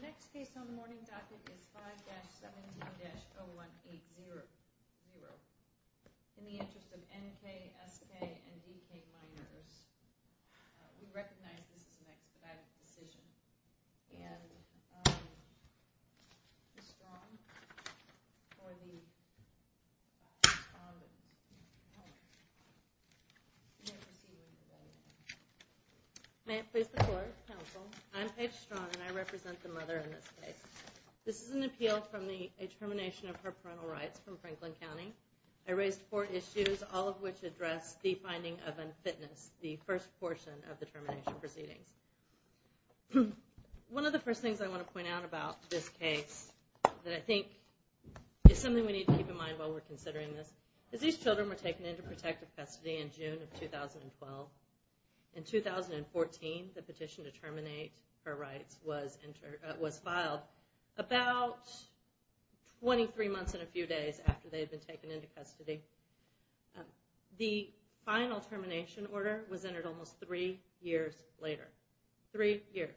S.K. And D.K. minors. The next case on the morning docket is 5-17-0180. In the interest of N.K., S.K., and D.K. minors, I'm going to call the witnesses in this case on the morning docket. We recognize this is an expedited decision. And Ms. Strong, for the... May it please the court, counsel, I'm Paige Strong, and I represent the mother in this case. This is an appeal from the determination of her parental rights from Franklin County. I raised four issues, all of which address the finding of unfitness, the first and foremost issue. And I'm going to talk about the first portion of the termination proceedings. One of the first things I want to point out about this case that I think is something we need to keep in mind while we're considering this is these children were taken into protective custody in June of 2012. In 2014, the petition to terminate her rights was filed about 23 months and a few days after they had been taken into custody. The final termination order was entered almost three years later. Three years.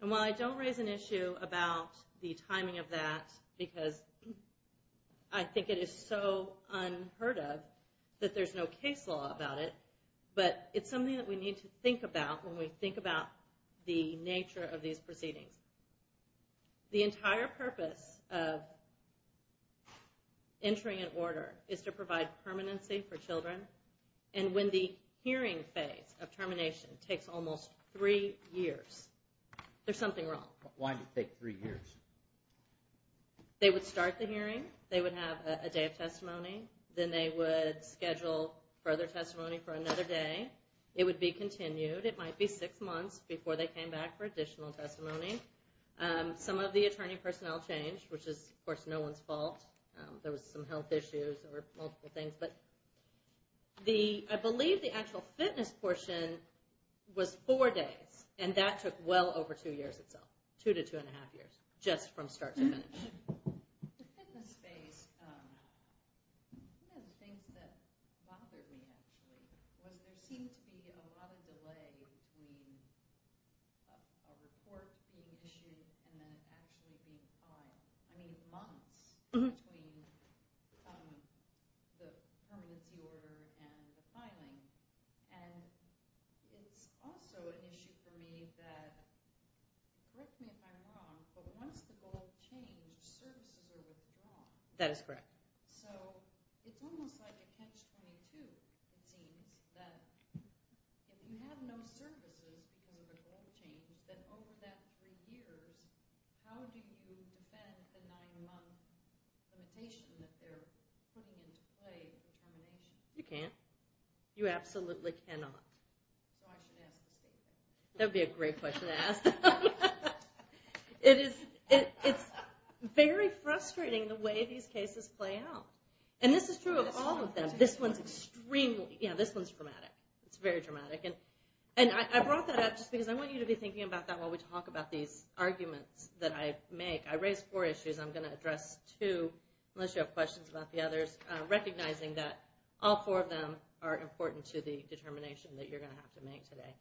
And while I don't raise an issue about the timing of that, because I think it is so unheard of that there's no case law about it, but it's something that we need to think about when we think about the nature of these proceedings. The entire purpose of entering an order is to provide permanency for children. And when the hearing phase of termination takes almost three years, there's something wrong. Why did it take three years? They would start the hearing. They would have a day of testimony. Then they would schedule further testimony for another day. It would be continued. It might be six months before they came back for additional testimony. Some of the attorney personnel changed, which is, of course, no one's fault. There was some health issues or multiple things. But I believe the actual fitness portion was four days, and that took well over two years itself. Two to two and a half years, just from start to finish. In the fitness space, one of the things that bothered me, actually, was there seemed to be a lot of delay between a report being issued and then actually being filed. I mean, months between the permanency order and the filing. And it's also an issue for me that, correct me if I'm wrong, but once the goal changed, services are withdrawn. That is correct. So it's almost like a catch-22, it seems, that if you have no services because of a goal change, then over that three years, how do you defend the nine-month limitation that they're putting into play for termination? You can't. You absolutely cannot. That would be a great question to ask. It's very frustrating the way these cases play out. And this is true of all of them. This one's extremely, yeah, this one's dramatic. It's very dramatic. And I brought that up just because I want you to be thinking about that while we talk about these arguments that I make. I raised four issues. I'm going to address two, unless you have questions about the others, recognizing that all four of them are important to the determination that you're going to have to make today.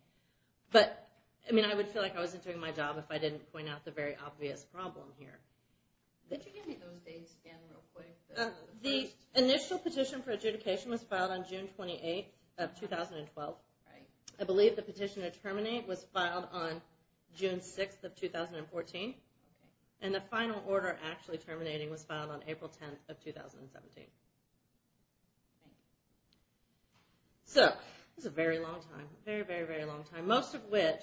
But, I mean, I would feel like I wasn't doing my job if I didn't point out the very obvious problem here. Could you give me those dates again real quick? The initial petition for adjudication was filed on June 28th of 2012. I believe the petition to terminate was filed on June 6th of 2014. And the final order actually terminating was filed on April 10th of 2017. So, this is a very long time. Very, very, very long time. Most of which,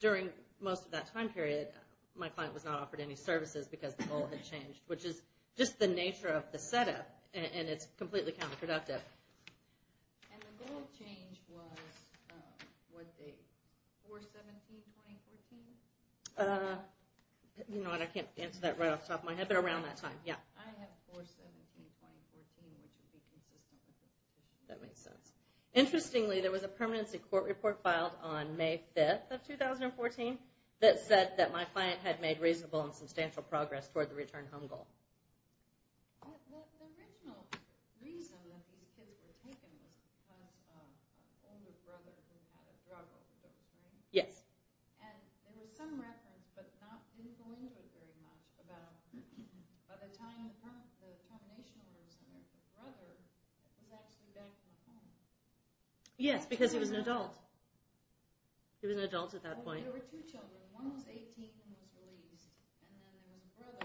during most of that time period, my client was not offered any services because the goal had changed, which is just the nature of the setup, and it's completely counterproductive. And the goal change was, what date? 4-17-2014? Uh, you know what, I can't answer that right off the top of my head, but around that time. Yeah. I have 4-17-2014, which would be consistent with the 15- That makes sense. Interestingly, there was a permanency court report filed on May 5th of 2014 that said that my client had made reasonable and substantial progress toward the return home goal. Well, the original reason that these kids were taken was because of an older brother who had a drug overdose, right? Yes. And there was some reference, but not in the language very much, about by the time the termination was and that the brother was actually back in the home. Yes, because he was an adult. He was an adult at that point. There were two children. One was 18 and was released. And then there was a brother.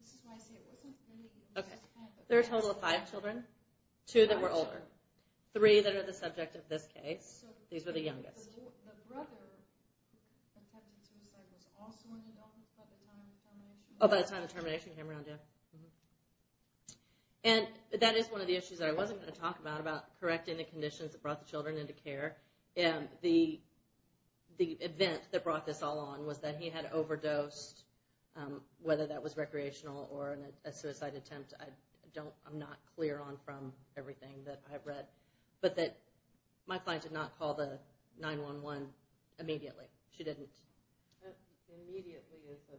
This is why I say it wasn't really- Okay. There were a total of five children. Two that were older. Three that are the subject of this case. These were the youngest. The brother, the pregnant suicide, was also an adult by the time the termination- Oh, by the time the termination came around, yeah. Mm-hmm. And that is one of the issues that I wasn't going to talk about, about correcting the event that brought this all on was that he had overdosed, whether that was recreational or a suicide attempt. I'm not clear on from everything that I've read, but that my client did not call the 911 immediately. She didn't. Immediately is the-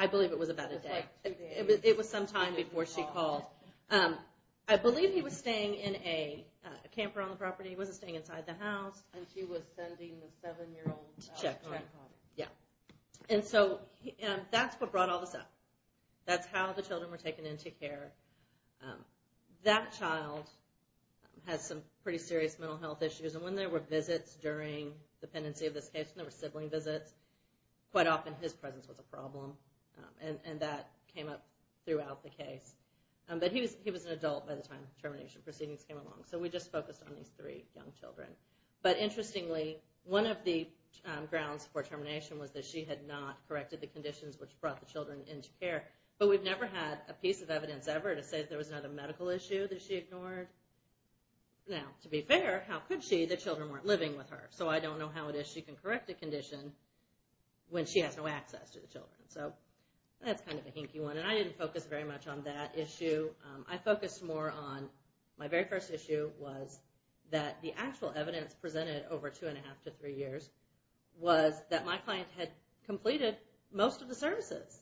I believe it was about a day. It was some time before she called. I believe he was staying in a camper on the property. He wasn't staying inside the house. And she was sending the seven-year-old- To check. To check on him. Yeah. And so that's what brought all this up. That's how the children were taken into care. That child has some pretty serious mental health issues. And when there were visits during the pendency of this case, and there were sibling visits, quite often his presence was a problem. And that came up throughout the case. But he was an adult by the time termination proceedings came along. So we just focused on these three young children. But interestingly, one of the grounds for termination was that she had not corrected the conditions which brought the children into care. But we've never had a piece of evidence ever to say there was not a medical issue that she ignored. Now, to be fair, how could she? The children weren't living with her. So I don't know how it is she can correct a condition when she has no access to the children. So that's kind of a hinky one. And I didn't focus very much on that issue. I focused more on my very first issue was that the actual evidence presented over two and a half to three years was that my client had completed most of the services.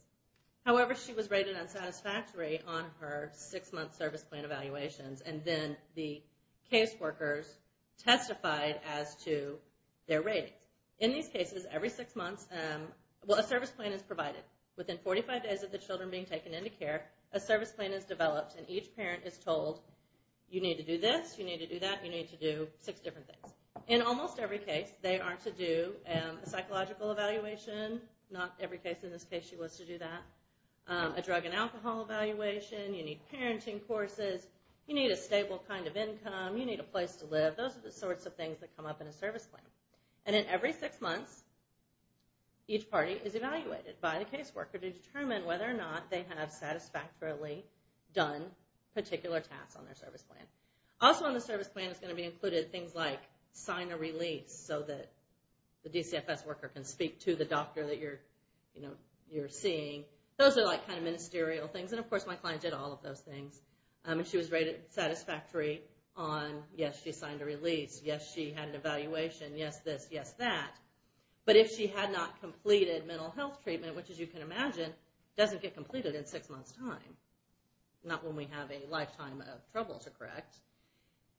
However, she was rated unsatisfactory on her six-month service plan evaluations. And then the caseworkers testified as to their rating. In these cases, every six months, well, a service plan is provided. Within 45 days of the children being taken into care, a service plan is developed, and each parent is told, you need to do this, you need to do that, you need to do six different things. In almost every case, they are to do a psychological evaluation. Not every case in this case she was to do that. A drug and alcohol evaluation. You need parenting courses. You need a stable kind of income. You need a place to live. Those are the sorts of things that come up in a service plan. And then every six months, each party is evaluated by the caseworker to determine whether or not they have satisfactorily done particular tasks on their service plan. Also on the service plan is going to be included things like sign a release so that the DCFS worker can speak to the doctor that you're seeing. Those are like kind of ministerial things. And of course, my client did all of those things. She was rated satisfactory on, yes, she signed a release. Yes, she had an evaluation. Yes, this. Yes, that. But if she had not completed mental health treatment, which as you can imagine, doesn't get completed in six months' time, not when we have a lifetime of trouble to correct,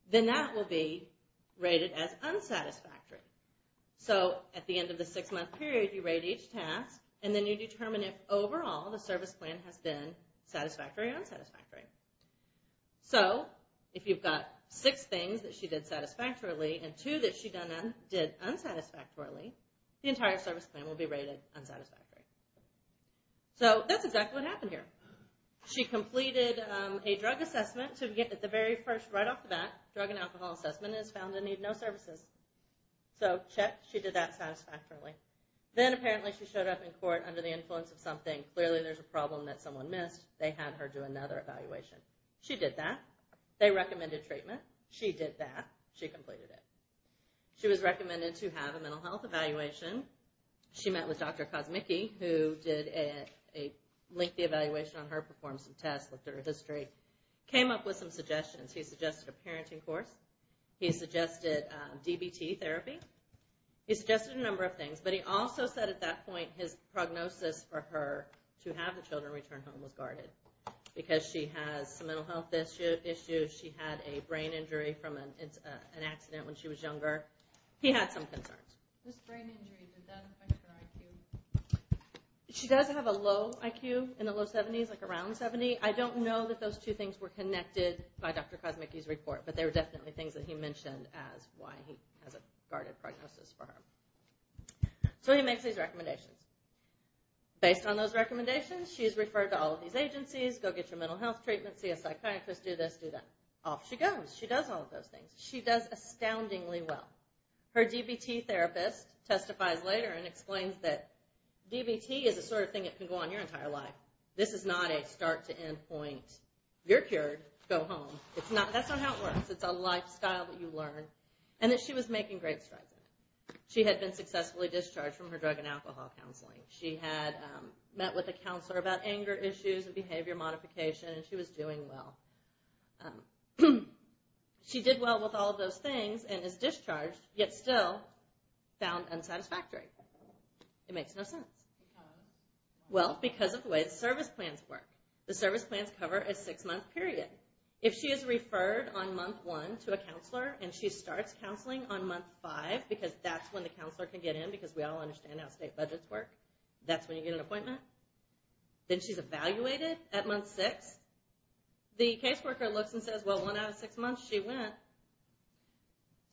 then that will be rated as unsatisfactory. So at the end of the six-month period, you rate each task, and then you determine if overall the service plan has been satisfactory or unsatisfactory. So if you've got six things that she did satisfactorily and two that she did unsatisfactorily, the entire service plan will be rated unsatisfactory. So that's exactly what happened here. She completed a drug assessment. So at the very first, right off the bat, drug and alcohol assessment is found to need no services. So check. She did that satisfactorily. Then apparently she showed up in court under the influence of something. Clearly there's a problem that someone missed. They had her do another evaluation. She did that. They recommended treatment. She did that. She completed it. She was recommended to have a mental health evaluation. She met with Dr. Kosmicki, who did a lengthy evaluation on her, performed some tests, looked at her history, came up with some suggestions. He suggested a parenting course. He suggested DBT therapy. He suggested a number of things. But he also said at that point his prognosis for her to have the children return home was guarded because she has some mental health issues. She had a brain injury from an accident when she was younger. He had some concerns. This brain injury, does that affect her IQ? She does have a low IQ in the low 70s, like around 70. I don't know that those two things were connected by Dr. Kosmicki's report, but they were definitely things that he mentioned as why he has a guarded prognosis for her. So he makes these recommendations. Based on those recommendations, she is referred to all of these agencies, go get your mental health treatment, see a psychiatrist, do this, do that. Off she goes. She does all of those things. She does astoundingly well. Her DBT therapist testifies later and explains that DBT is the sort of thing that can go on your entire life. This is not a start to end point. You're cured. Go home. That's not how it works. It's a lifestyle that you learn, and that she was making great strides in. She had been successfully discharged from her drug and alcohol counseling. She had met with a counselor about anger issues and behavior modification, and she was doing well. She did well with all of those things and is discharged, yet still found unsatisfactory. It makes no sense. Well, because of the way the service plans work. The service plans cover a six-month period. If she is referred on month one to a counselor and she starts counseling on month five, because that's when the counselor can get in because we all understand how state budgets work, that's when you get an appointment. Then she's evaluated at month six. The caseworker looks and says, well, one out of six months she went,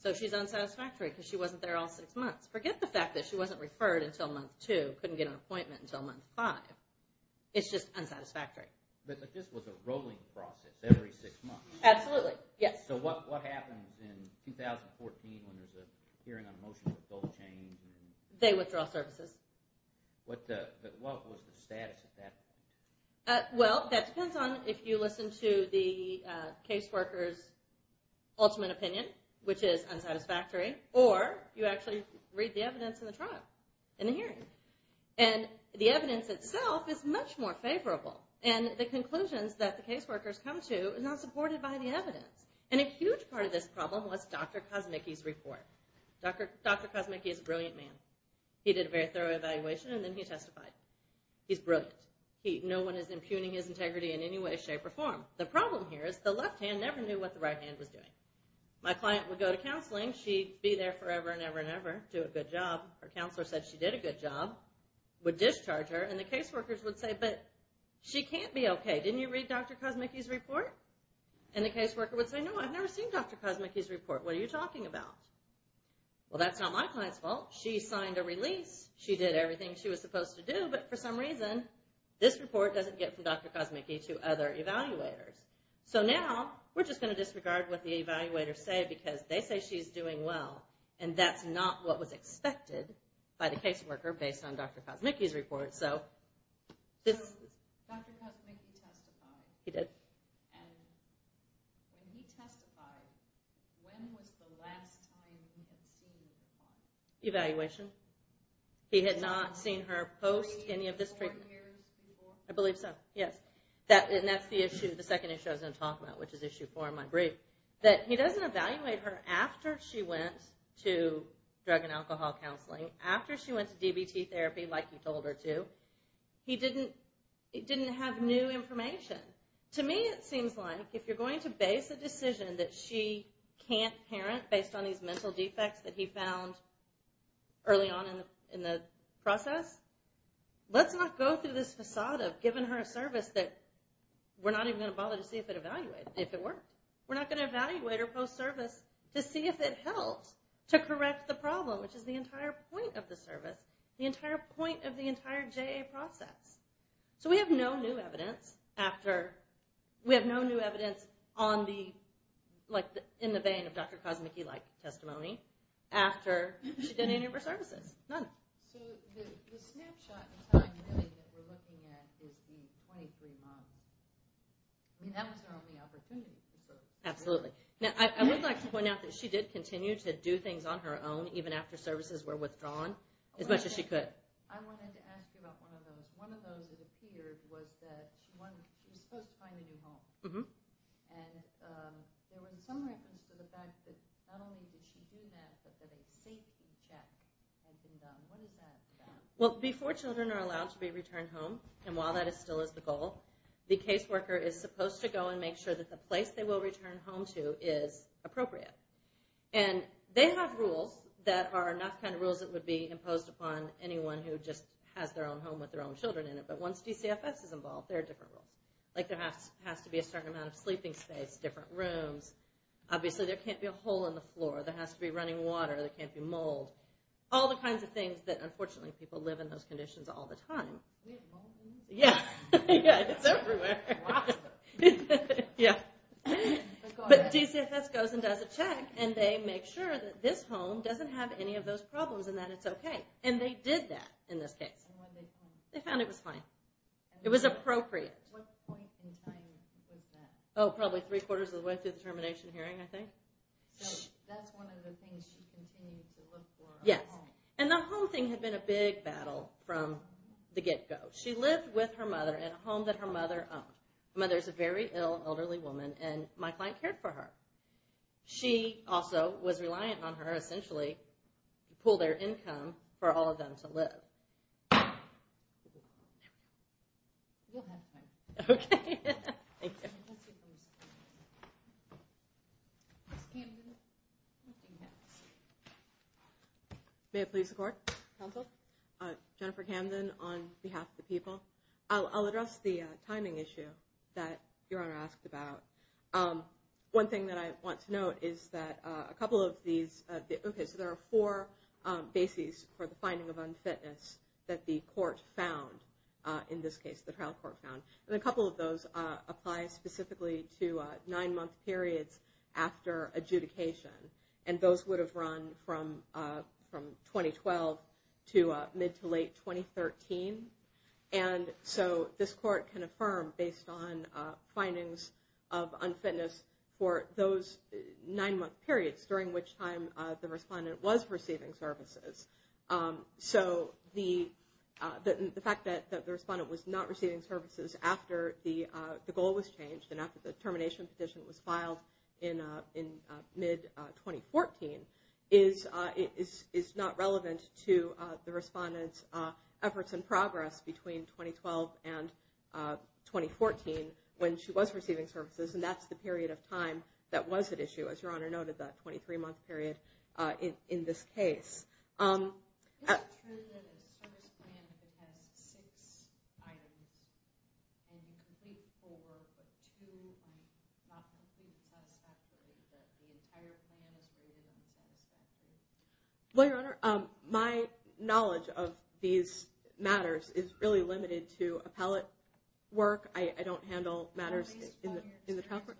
so she's unsatisfactory because she wasn't there all six months. Forget the fact that she wasn't referred until month two, couldn't get an appointment until month five. It's just unsatisfactory. But this was a rolling process every six months. Absolutely, yes. So what happens in 2014 when there's a hearing on a motion to withhold change? They withdraw services. What was the status at that point? Well, that depends on if you listen to the caseworker's ultimate opinion, which is unsatisfactory, and the evidence itself is much more favorable, and the conclusions that the caseworkers come to are not supported by the evidence. And a huge part of this problem was Dr. Kosmicki's report. Dr. Kosmicki is a brilliant man. He did a very thorough evaluation, and then he testified. He's brilliant. No one is impugning his integrity in any way, shape, or form. The problem here is the left hand never knew what the right hand was doing. My client would go to counseling. She'd be there forever and ever and ever, do a good job. Her counselor said she did a good job, would discharge her, and the caseworkers would say, but she can't be okay. Didn't you read Dr. Kosmicki's report? And the caseworker would say, no, I've never seen Dr. Kosmicki's report. What are you talking about? Well, that's not my client's fault. She signed a release. She did everything she was supposed to do, but for some reason this report doesn't get from Dr. Kosmicki to other evaluators. So now we're just going to disregard what the evaluators say because they say she's doing well, and that's not what was expected by the caseworker based on Dr. Kosmicki's report. So Dr. Kosmicki testified. He did. And when he testified, when was the last time he had seen her? Evaluation. He had not seen her post any of this treatment. Four years before? I believe so, yes. And that's the issue, the second issue I was going to talk about, which is issue four in my brief. That he doesn't evaluate her after she went to drug and alcohol counseling, after she went to DBT therapy like you told her to. He didn't have new information. To me it seems like if you're going to base a decision that she can't parent based on these mental defects that he found early on in the process, let's not go through this facade of giving her a service that we're not even going to bother to see if it evaluated, if it worked. We're not going to evaluate her post-service to see if it helped to correct the problem, which is the entire point of the service, the entire point of the entire JA process. So we have no new evidence after, we have no new evidence on the, like in the vein of Dr. Kosmicki-like testimony after she did any of her services. None. So the snapshot in time really that we're looking at is the 23 months. I mean that was her only opportunity to serve. Absolutely. Now I would like to point out that she did continue to do things on her own even after services were withdrawn, as much as she could. I wanted to ask you about one of those. One of those it appeared was that she was supposed to find a new home. And there was some reference to the fact that not only did she do that, but that a safety check had been done. What is that about? Well, before children are allowed to be returned home, and while that still is the goal, the caseworker is supposed to go and make sure that the place they will return home to is appropriate. And they have rules that are enough kind of rules that would be imposed upon anyone who just has their own home with their own children in it. But once DCFS is involved, there are different rules. Like there has to be a certain amount of sleeping space, different rooms. Obviously there can't be a hole in the floor. There has to be running water. There can't be mold. All the kinds of things that unfortunately people live in those conditions all the time. Do we have mold in here? Yeah. It's everywhere. Wow. Yeah. But DCFS goes and does a check, and they make sure that this home doesn't have any of those problems and that it's okay. And they did that in this case. And what did they find? They found it was fine. It was appropriate. What point in time was that? Oh, probably three-quarters of the way through the termination hearing, I think. So that's one of the things she continued to look for. Yes. And the home thing had been a big battle from the get-go. She lived with her mother in a home that her mother owned. Her mother is a very ill, elderly woman, and my client cared for her. She also was reliant on her, essentially, to pool their income for all of them to live. We'll have time. Okay. Thank you. Yes, Camden. May it please the Court? Counsel? Jennifer Camden on behalf of the people. I'll address the timing issue that Your Honor asked about. One thing that I want to note is that a couple of these – okay, so there are four bases for the finding of unfitness that the court found in this case, the trial court found. And a couple of those apply specifically to nine-month periods after adjudication. And those would have run from 2012 to mid-to-late 2013. And so this court can affirm based on findings of unfitness for those nine-month periods, during which time the respondent was receiving services. So the fact that the respondent was not receiving services after the goal was changed and after the termination petition was filed in mid-2014 is not relevant to the respondent's efforts and progress between 2012 and 2014 when she was receiving services. And that's the period of time that was at issue, as Your Honor noted, that 23-month period in this case. Well, Your Honor, my knowledge of these matters is really limited to appellate work. I don't handle matters in the trial court.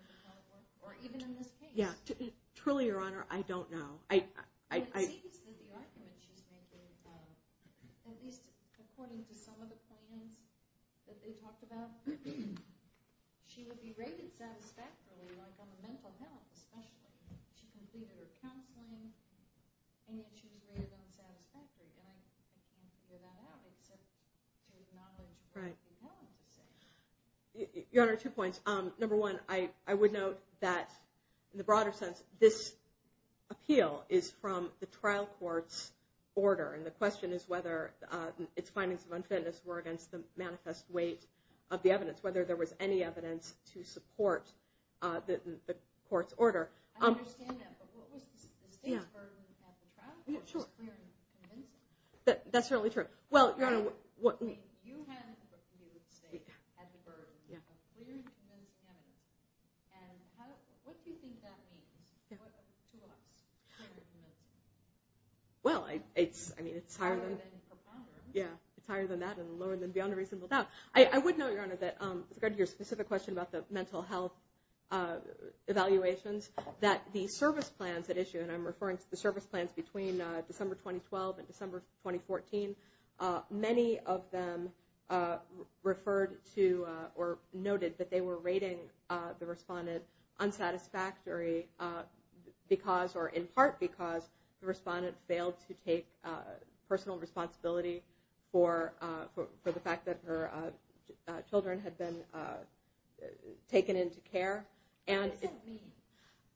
Yeah, truly, Your Honor, I don't know. It seems that the argument she's making, at least according to some of the claims that they talked about, she would be rated satisfactorily on the mental health, especially. She completed her counseling, and yet she was rated unsatisfactory. And I can't figure that out except to acknowledge what the appellant is saying. Your Honor, two points. Number one, I would note that, in the broader sense, this appeal is from the trial court's order. And the question is whether its findings of unfitness were against the manifest weight of the evidence, whether there was any evidence to support the court's order. I understand that, but what was the state's burden at the trial court? It was clear and convincing. That's certainly true. Well, Your Honor, what means? You had the state at the burden of clear and convincing evidence. And what do you think that means to us? Well, I mean, it's higher than that and lower than beyond a reasonable doubt. I would note, Your Honor, that with regard to your specific question about the mental health evaluations, that the service plans that issue, and I'm referring to the service plans between December 2012 and December 2014, many of them referred to or noted that they were rating the respondent unsatisfactory because, or in part because, the respondent failed to take personal responsibility for the fact that her children had been taken into care. What does that mean?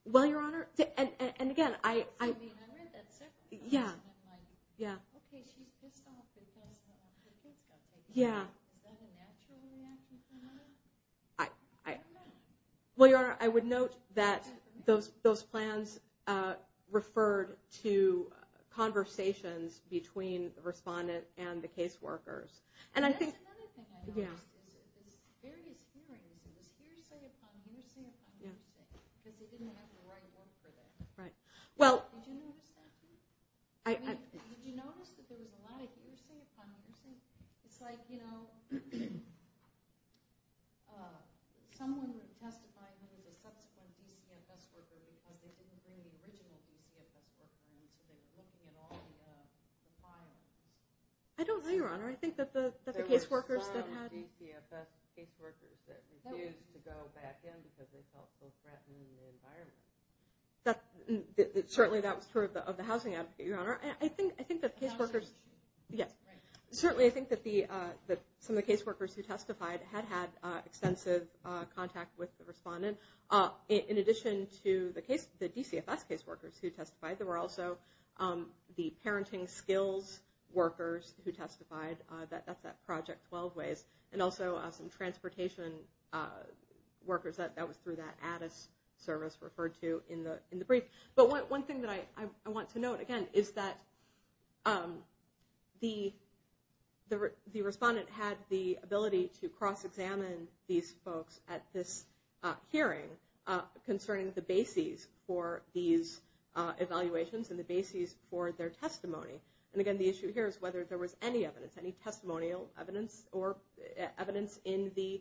Well, Your Honor, and again, I... I mean, I read that second question and I'm like, okay, she's pissed off because her kids got taken into care. Is that a natural reaction from her? I don't know. Well, Your Honor, I would note that those plans referred to conversations between the respondent and the caseworkers. That's another thing I noticed is various hearings. It was hearsay upon hearsay upon hearsay because they didn't have the right work for them. Did you notice that? I mean, did you notice that there was a lot of hearsay upon hearsay? It's like, you know, someone testifying who was a subsequent DCFS worker because they didn't bring the original DCFS worker in, so they were looking at all the files. I don't know, Your Honor. I think that the caseworkers that had... There were a lot of DCFS caseworkers that refused to go back in because they felt so threatened in the environment. Certainly, that was true of the housing advocate, Your Honor. I think that caseworkers... The housing issue. Yes. Certainly, I think that some of the caseworkers who testified had had extensive contact with the respondent. In addition to the DCFS caseworkers who testified, there were also the parenting skills workers who testified. That's that Project 12 ways. And also, some transportation workers. That was through that Addis service referred to in the brief. But one thing that I want to note, again, is that the respondent had the ability to cross-examine these folks at this hearing concerning the bases for these evaluations and the bases for their testimony. And, again, the issue here is whether there was any evidence, any testimonial evidence or evidence in the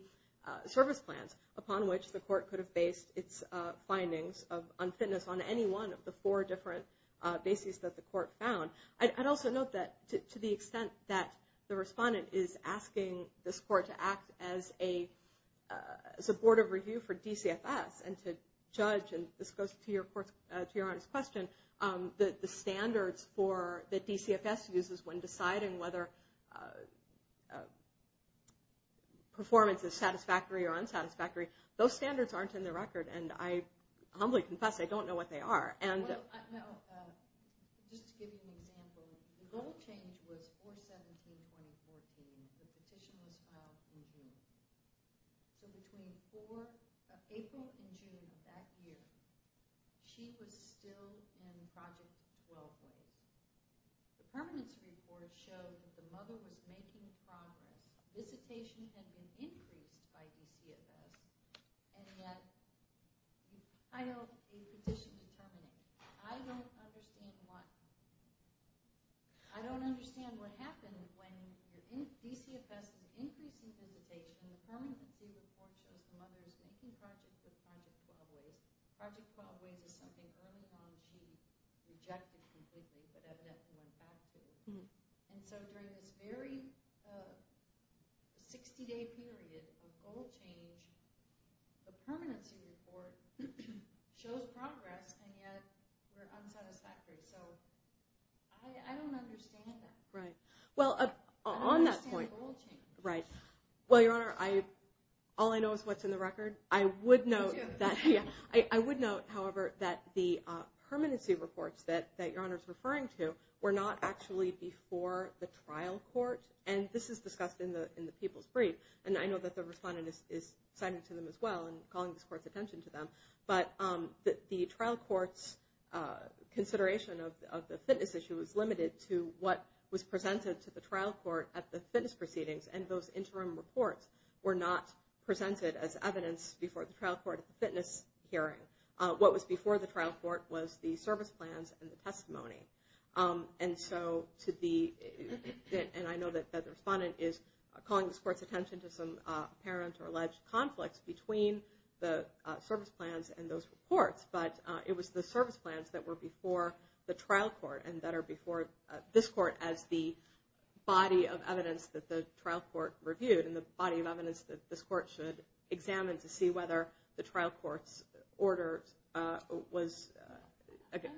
service plans upon which the court could have based its findings on fitness on any one of the four different bases that the court found. I'd also note that to the extent that the respondent is asking this court to act as a supportive review for DCFS and to judge, and this goes to Your Honor's question, the standards that DCFS uses when deciding whether performance is satisfactory or unsatisfactory, those standards aren't in the record. And I humbly confess I don't know what they are. Just to give you an example, the goal change was 4-17-2014. The petition was filed in June. So between April and June of that year, she was still in Project 12 ways. The permanence report showed that the mother was making progress. Visitation had been increased by DCFS, and yet you filed a petition to terminate. I don't understand why. I don't understand what happened when DCFS increased the visitation. The permanency report shows the mother is making progress with Project 12 ways. Project 12 ways is something early on she rejected completely but evidently went back to. And so during this very 60-day period of goal change, the permanency report shows progress, and yet you're unsatisfactory. So I don't understand that. I don't understand goal change. Well, Your Honor, all I know is what's in the record. Me too. I would note, however, that the permanency reports that Your Honor is referring to were not actually before the trial court. And this is discussed in the people's brief. And I know that the respondent is citing to them as well and calling this court's attention to them. But the trial court's consideration of the fitness issue is limited to what was presented to the trial court at the fitness proceedings. And those interim reports were not presented as evidence before the trial court fitness hearing. What was before the trial court was the service plans and the testimony. And so to the end, I know that the respondent is calling this court's attention to some apparent or alleged conflicts between the service plans and those reports. But it was the service plans that were before the trial court and that are before this court as the body of evidence that the trial court reviewed and the body of evidence that this court should examine to see whether the trial court's order was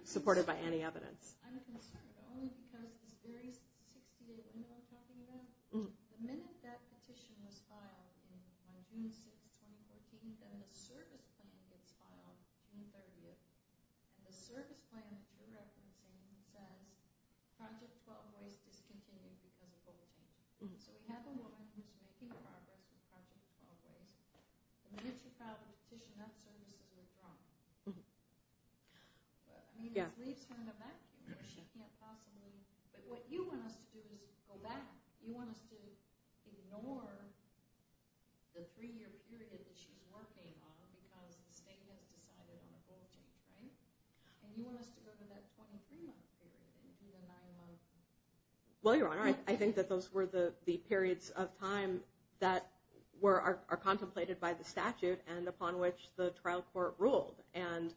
supported by any evidence. I'm concerned only because this very 68 amendment I'm talking about, the minute that petition was filed on June 6th, 2014, then the service plan gets filed June 30th. And the service plan that you're referencing says, project 12 ways discontinued because of bulletin. So we have a woman who's making progress with project 12 ways. The minute you file the petition, that service is withdrawn. What you want us to do is go back. You want us to ignore the three-year period that she's working on because the state has decided on a bulletin. And you want us to go to that 23-month period. Well, Your Honor, I think that those were the periods of time that are contemplated by the statute and upon which the trial court ruled. And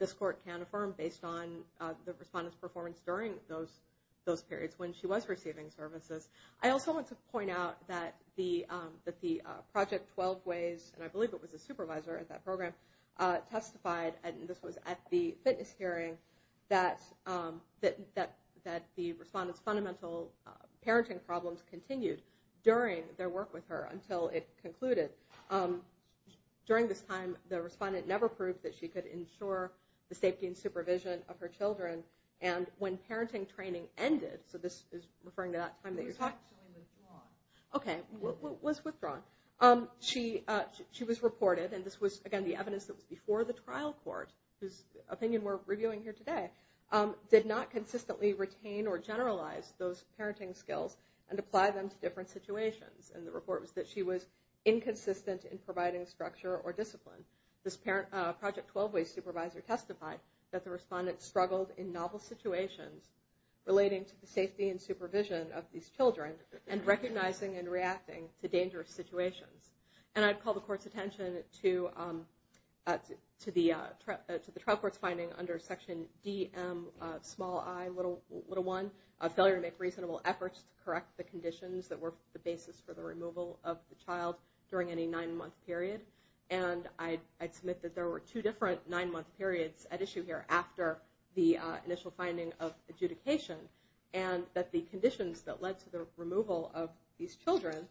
this court can affirm based on the respondent's performance during those periods when she was receiving services. I also want to point out that the project 12 ways, and I believe it was a supervisor at that program, testified, and this was at the fitness hearing, that the respondent's fundamental parenting problems continued during their work with her until it concluded. During this time, the respondent never proved that she could ensure the safety and supervision of her children. And when parenting training ended, so this is referring to that time that you're talking about. It was actually withdrawn. Okay, it was withdrawn. She was reported, and this was, again, the evidence that was before the trial court, whose opinion we're reviewing here today, did not consistently retain or generalize those parenting skills and apply them to different situations. And the report was that she was inconsistent in providing structure or discipline. This project 12 ways supervisor testified that the respondent struggled in novel situations relating to the safety and supervision of these children and recognizing and reacting to dangerous situations. And I'd call the court's attention to the trial court's finding under section DM, small i, little 1, of failure to make reasonable efforts to correct the conditions that were the basis for the removal of the child during any nine-month period. And I'd submit that there were two different nine-month periods at issue here after the initial finding of adjudication and that the conditions that led to the removal of these children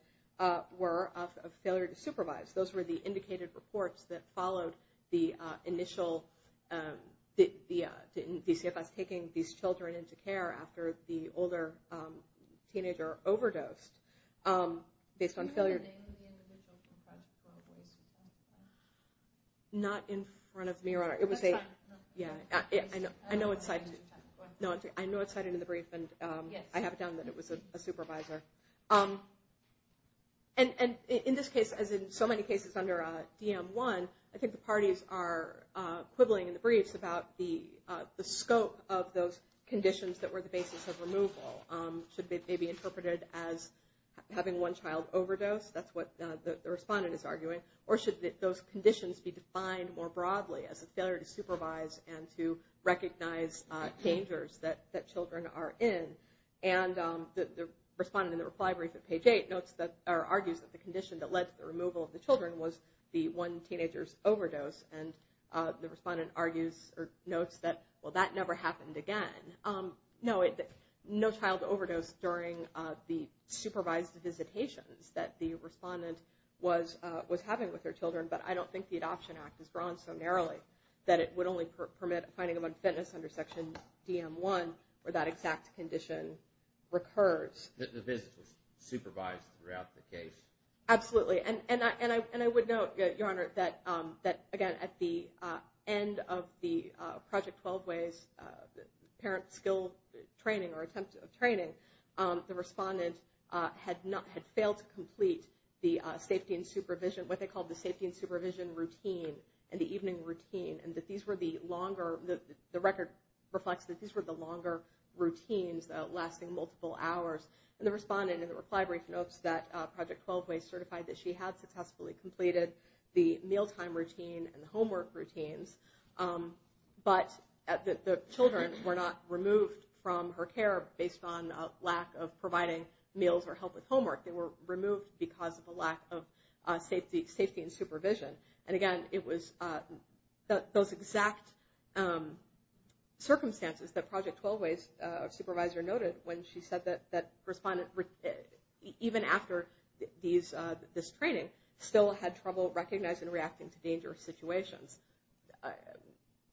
were of failure to supervise. Those were the indicated reports that followed the initial DCFS taking these children into care after the older teenager overdosed based on failure. Do you have the name of the individual who testified? Not in front of me, Your Honor. That's fine. I know it's cited in the brief, and I have it down that it was a supervisor. And in this case, as in so many cases under DM1, I think the parties are quibbling in the briefs about the scope of those conditions that were the basis of removal. Should they be interpreted as having one child overdose? That's what the respondent is arguing. Or should those conditions be defined more broadly as a failure to supervise and to recognize dangers that children are in? And the respondent in the reply brief at page 8 argues that the condition that led to the removal of the children was the one teenager's overdose. And the respondent argues or notes that, well, that never happened again. No, no child overdose during the supervised visitations that the respondent was having with their children, but I don't think the Adoption Act is drawn so narrowly that it would only permit finding of a fitness under Section DM1 where that exact condition recurs. The visit was supervised throughout the case? Absolutely. And I would note, Your Honor, that, again, at the end of the Project 12-Ways parent skill training or attempt of training, the respondent had failed to complete the safety and supervision, what they called the safety and supervision routine and the evening routine, and the record reflects that these were the longer routines lasting multiple hours. And the respondent in the reply brief notes that Project 12-Ways certified that she had successfully completed the mealtime routine and the homework routines, but the children were not removed from her care based on a lack of providing meals or help with homework. They were removed because of a lack of safety and supervision. And, again, it was those exact circumstances that Project 12-Ways supervisor noted when she said that respondent, even after this training, still had trouble recognizing and reacting to dangerous situations,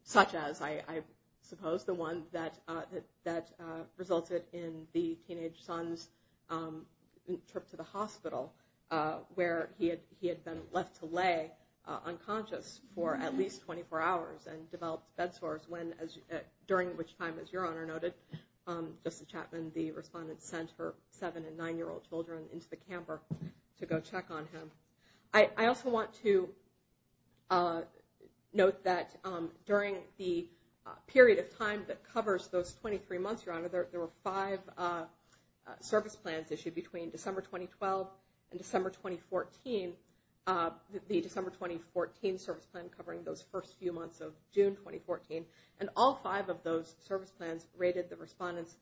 such as, I suppose, the one that resulted in the teenage son's trip to the hospital where he had been left to lay unconscious for at least 24 hours and developed bed sores, during which time, as Your Honor noted, Justice Chapman, the respondent, sent her seven- and nine-year-old children into the camper to go check on him. I also want to note that during the period of time that covers those 23 months, Your Honor, there were five service plans issued between December 2012 and December 2014, the December 2014 service plan covering those first few months of June 2014. And all five of those service plans rated the respondent's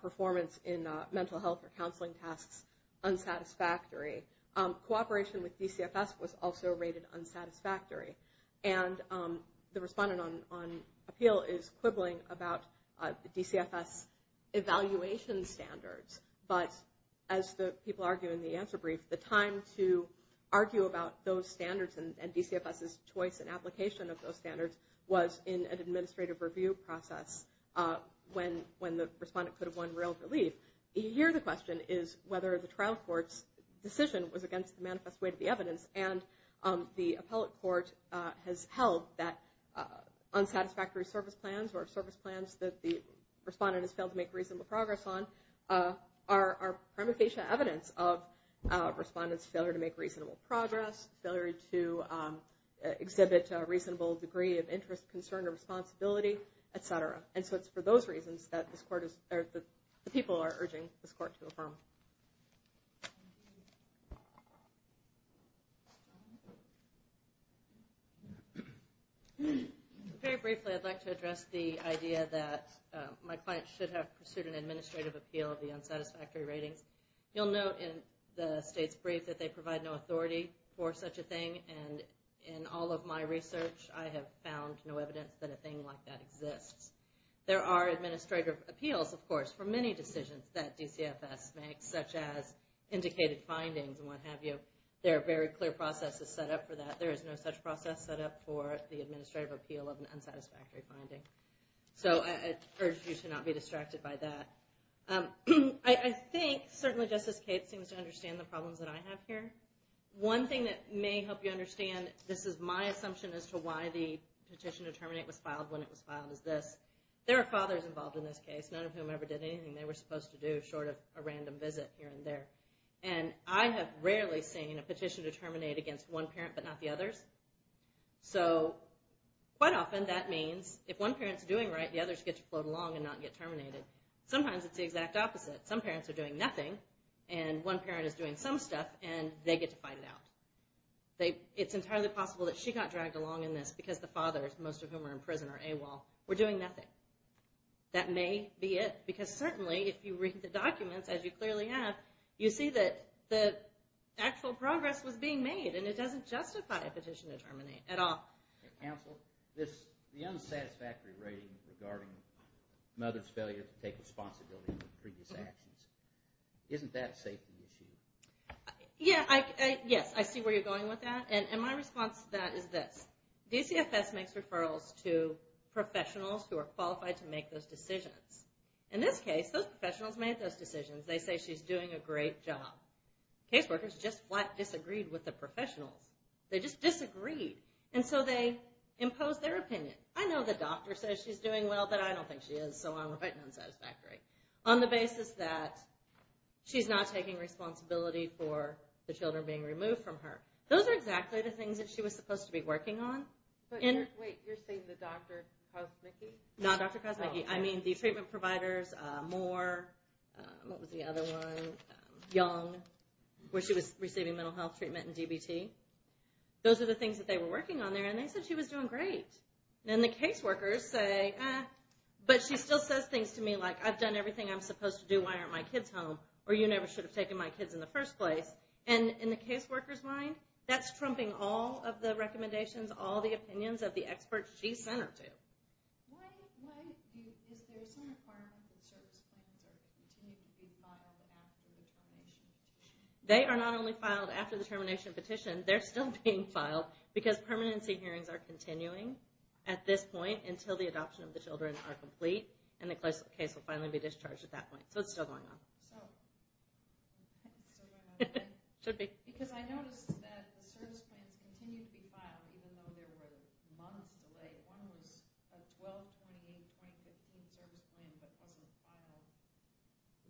performance in mental health or counseling tasks unsatisfactory. Cooperation with DCFS was also rated unsatisfactory. And the respondent on appeal is quibbling about the DCFS evaluation standards. But as people argue in the answer brief, the time to argue about those standards and DCFS's choice and application of those standards was in an administrative review process when the respondent could have won real relief. Here the question is whether the trial court's decision was against the manifest weight of the evidence. And the appellate court has held that unsatisfactory service plans or service plans that the respondent has failed to make reasonable progress on are prima facie evidence of a respondent's failure to make reasonable progress, failure to exhibit a reasonable degree of interest, concern, or responsibility, et cetera. And so it's for those reasons that the people are urging this court to affirm. Very briefly, I'd like to address the idea that my client should have pursued an administrative appeal of the unsatisfactory ratings. You'll note in the state's brief that they provide no authority for such a thing. And in all of my research, I have found no evidence that a thing like that exists. There are administrative appeals, of course, for many decisions that DCFS makes, such as indicated findings and what have you. There are very clear processes set up for that. There is no such process set up for the administrative appeal of an unsatisfactory finding. So I urge you to not be distracted by that. I think certainly Justice Cates seems to understand the problems that I have here. One thing that may help you understand this is my assumption as to why the petition to terminate was filed when it was filed is this. There are fathers involved in this case, none of whom ever did anything they were supposed to do short of a random visit here and there. And I have rarely seen a petition to terminate against one parent but not the others. So quite often that means if one parent is doing right, the others get to float along and not get terminated. Sometimes it's the exact opposite. Some parents are doing nothing and one parent is doing some stuff and they get to fight it out. It's entirely possible that she got dragged along in this because the fathers, most of whom are in prison or AWOL, were doing nothing. That may be it because certainly if you read the documents, as you clearly have, you see that the actual progress was being made and it doesn't justify a petition to terminate at all. The unsatisfactory rating regarding mother's failure to take responsibility for previous actions, isn't that a safety issue? Yes, I see where you're going with that. And my response to that is this. DCFS makes referrals to professionals who are qualified to make those decisions. In this case, those professionals made those decisions. They say she's doing a great job. Caseworkers just flat disagreed with the professionals. They just disagreed and so they imposed their opinion. I know the doctor says she's doing well, but I don't think she is, so I'm writing unsatisfactory, on the basis that she's not taking responsibility for the children being removed from her. Those are exactly the things that she was supposed to be working on. Wait, you're saying the Dr. Kosmicki? No, Dr. Kosmicki. I mean the treatment providers, Moore, what was the other one, Young, where she was receiving mental health treatment and DBT. Those are the things that they were working on there, and they said she was doing great. And the caseworkers say, eh, but she still says things to me like, I've done everything I'm supposed to do, why aren't my kids home, or you never should have taken my kids in the first place. And in the caseworker's mind, that's trumping all of the recommendations, all the opinions of the experts she sent her to. Why is there some requirement that service plans continue to be filed after the termination petition? They are not only filed after the termination petition, they're still being filed, because permanency hearings are continuing at this point until the adoption of the children are complete, and the case will finally be discharged at that point. So it's still going on. Because I noticed that the service plans continue to be filed, even though there were months delayed. One was a 1228.15 service plan that wasn't filed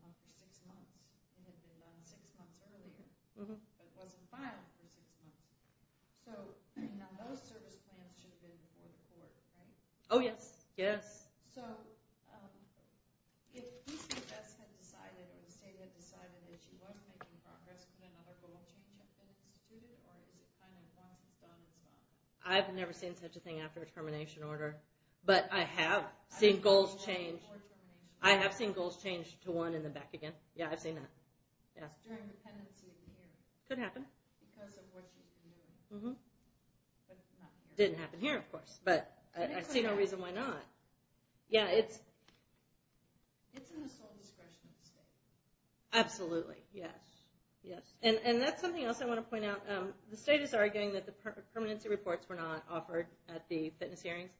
for six months. It had been done six months earlier, but it wasn't filed for six months. So now those service plans should have been before the court, right? Oh, yes. Yes. So if PCS had decided or the state had decided that she wasn't making progress, could another rule change have been instituted, or is it kind of a once and done and stopped? I've never seen such a thing after a termination order, but I have seen goals change. I have seen goals change to one in the back again. Yeah, I've seen that. During the pendency hearing. Could happen. Because of what she's doing. Didn't happen here, of course, but I see no reason why not. It's in the sole discretion of the state. Absolutely, yes. And that's something else I want to point out. The state is arguing that the permanency reports were not offered at the fitness hearings.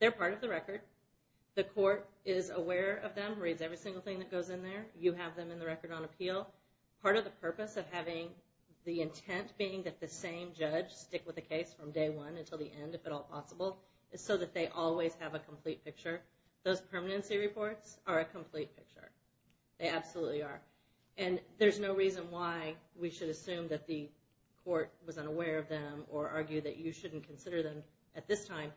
They're part of the record. The court is aware of them, reads every single thing that goes in there. You have them in the record on appeal. Part of the purpose of having the intent being that the same judge stick with the case from day one until the end, if at all possible, is so that they always have a complete picture. Those permanency reports are a complete picture. They absolutely are. And there's no reason why we should assume that the court was unaware of them or argue that you shouldn't consider them at this time.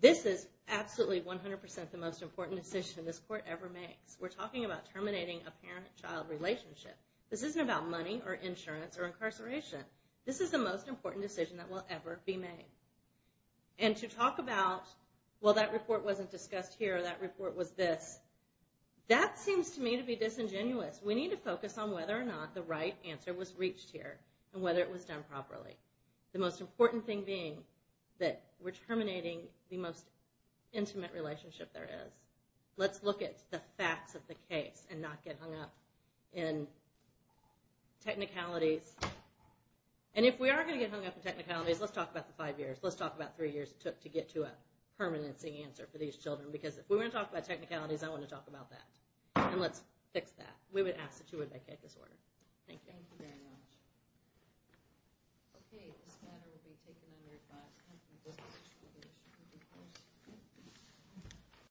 This is absolutely 100% the most important decision this court ever makes. We're talking about terminating a parent-child relationship. This isn't about money or insurance or incarceration. This is the most important decision that will ever be made. And to talk about, well, that report wasn't discussed here, that report was this, that seems to me to be disingenuous. We need to focus on whether or not the right answer was reached here and whether it was done properly. The most important thing being that we're terminating the most intimate relationship there is. Let's look at the facts of the case and not get hung up in technicalities. And if we are going to get hung up in technicalities, let's talk about the five years. Let's talk about three years it took to get to a permanency answer for these children. Because if we're going to talk about technicalities, I want to talk about that. And let's fix that. We would ask that you would make it this order. Thank you. Thank you very much. Okay. This matter will be taken under advice.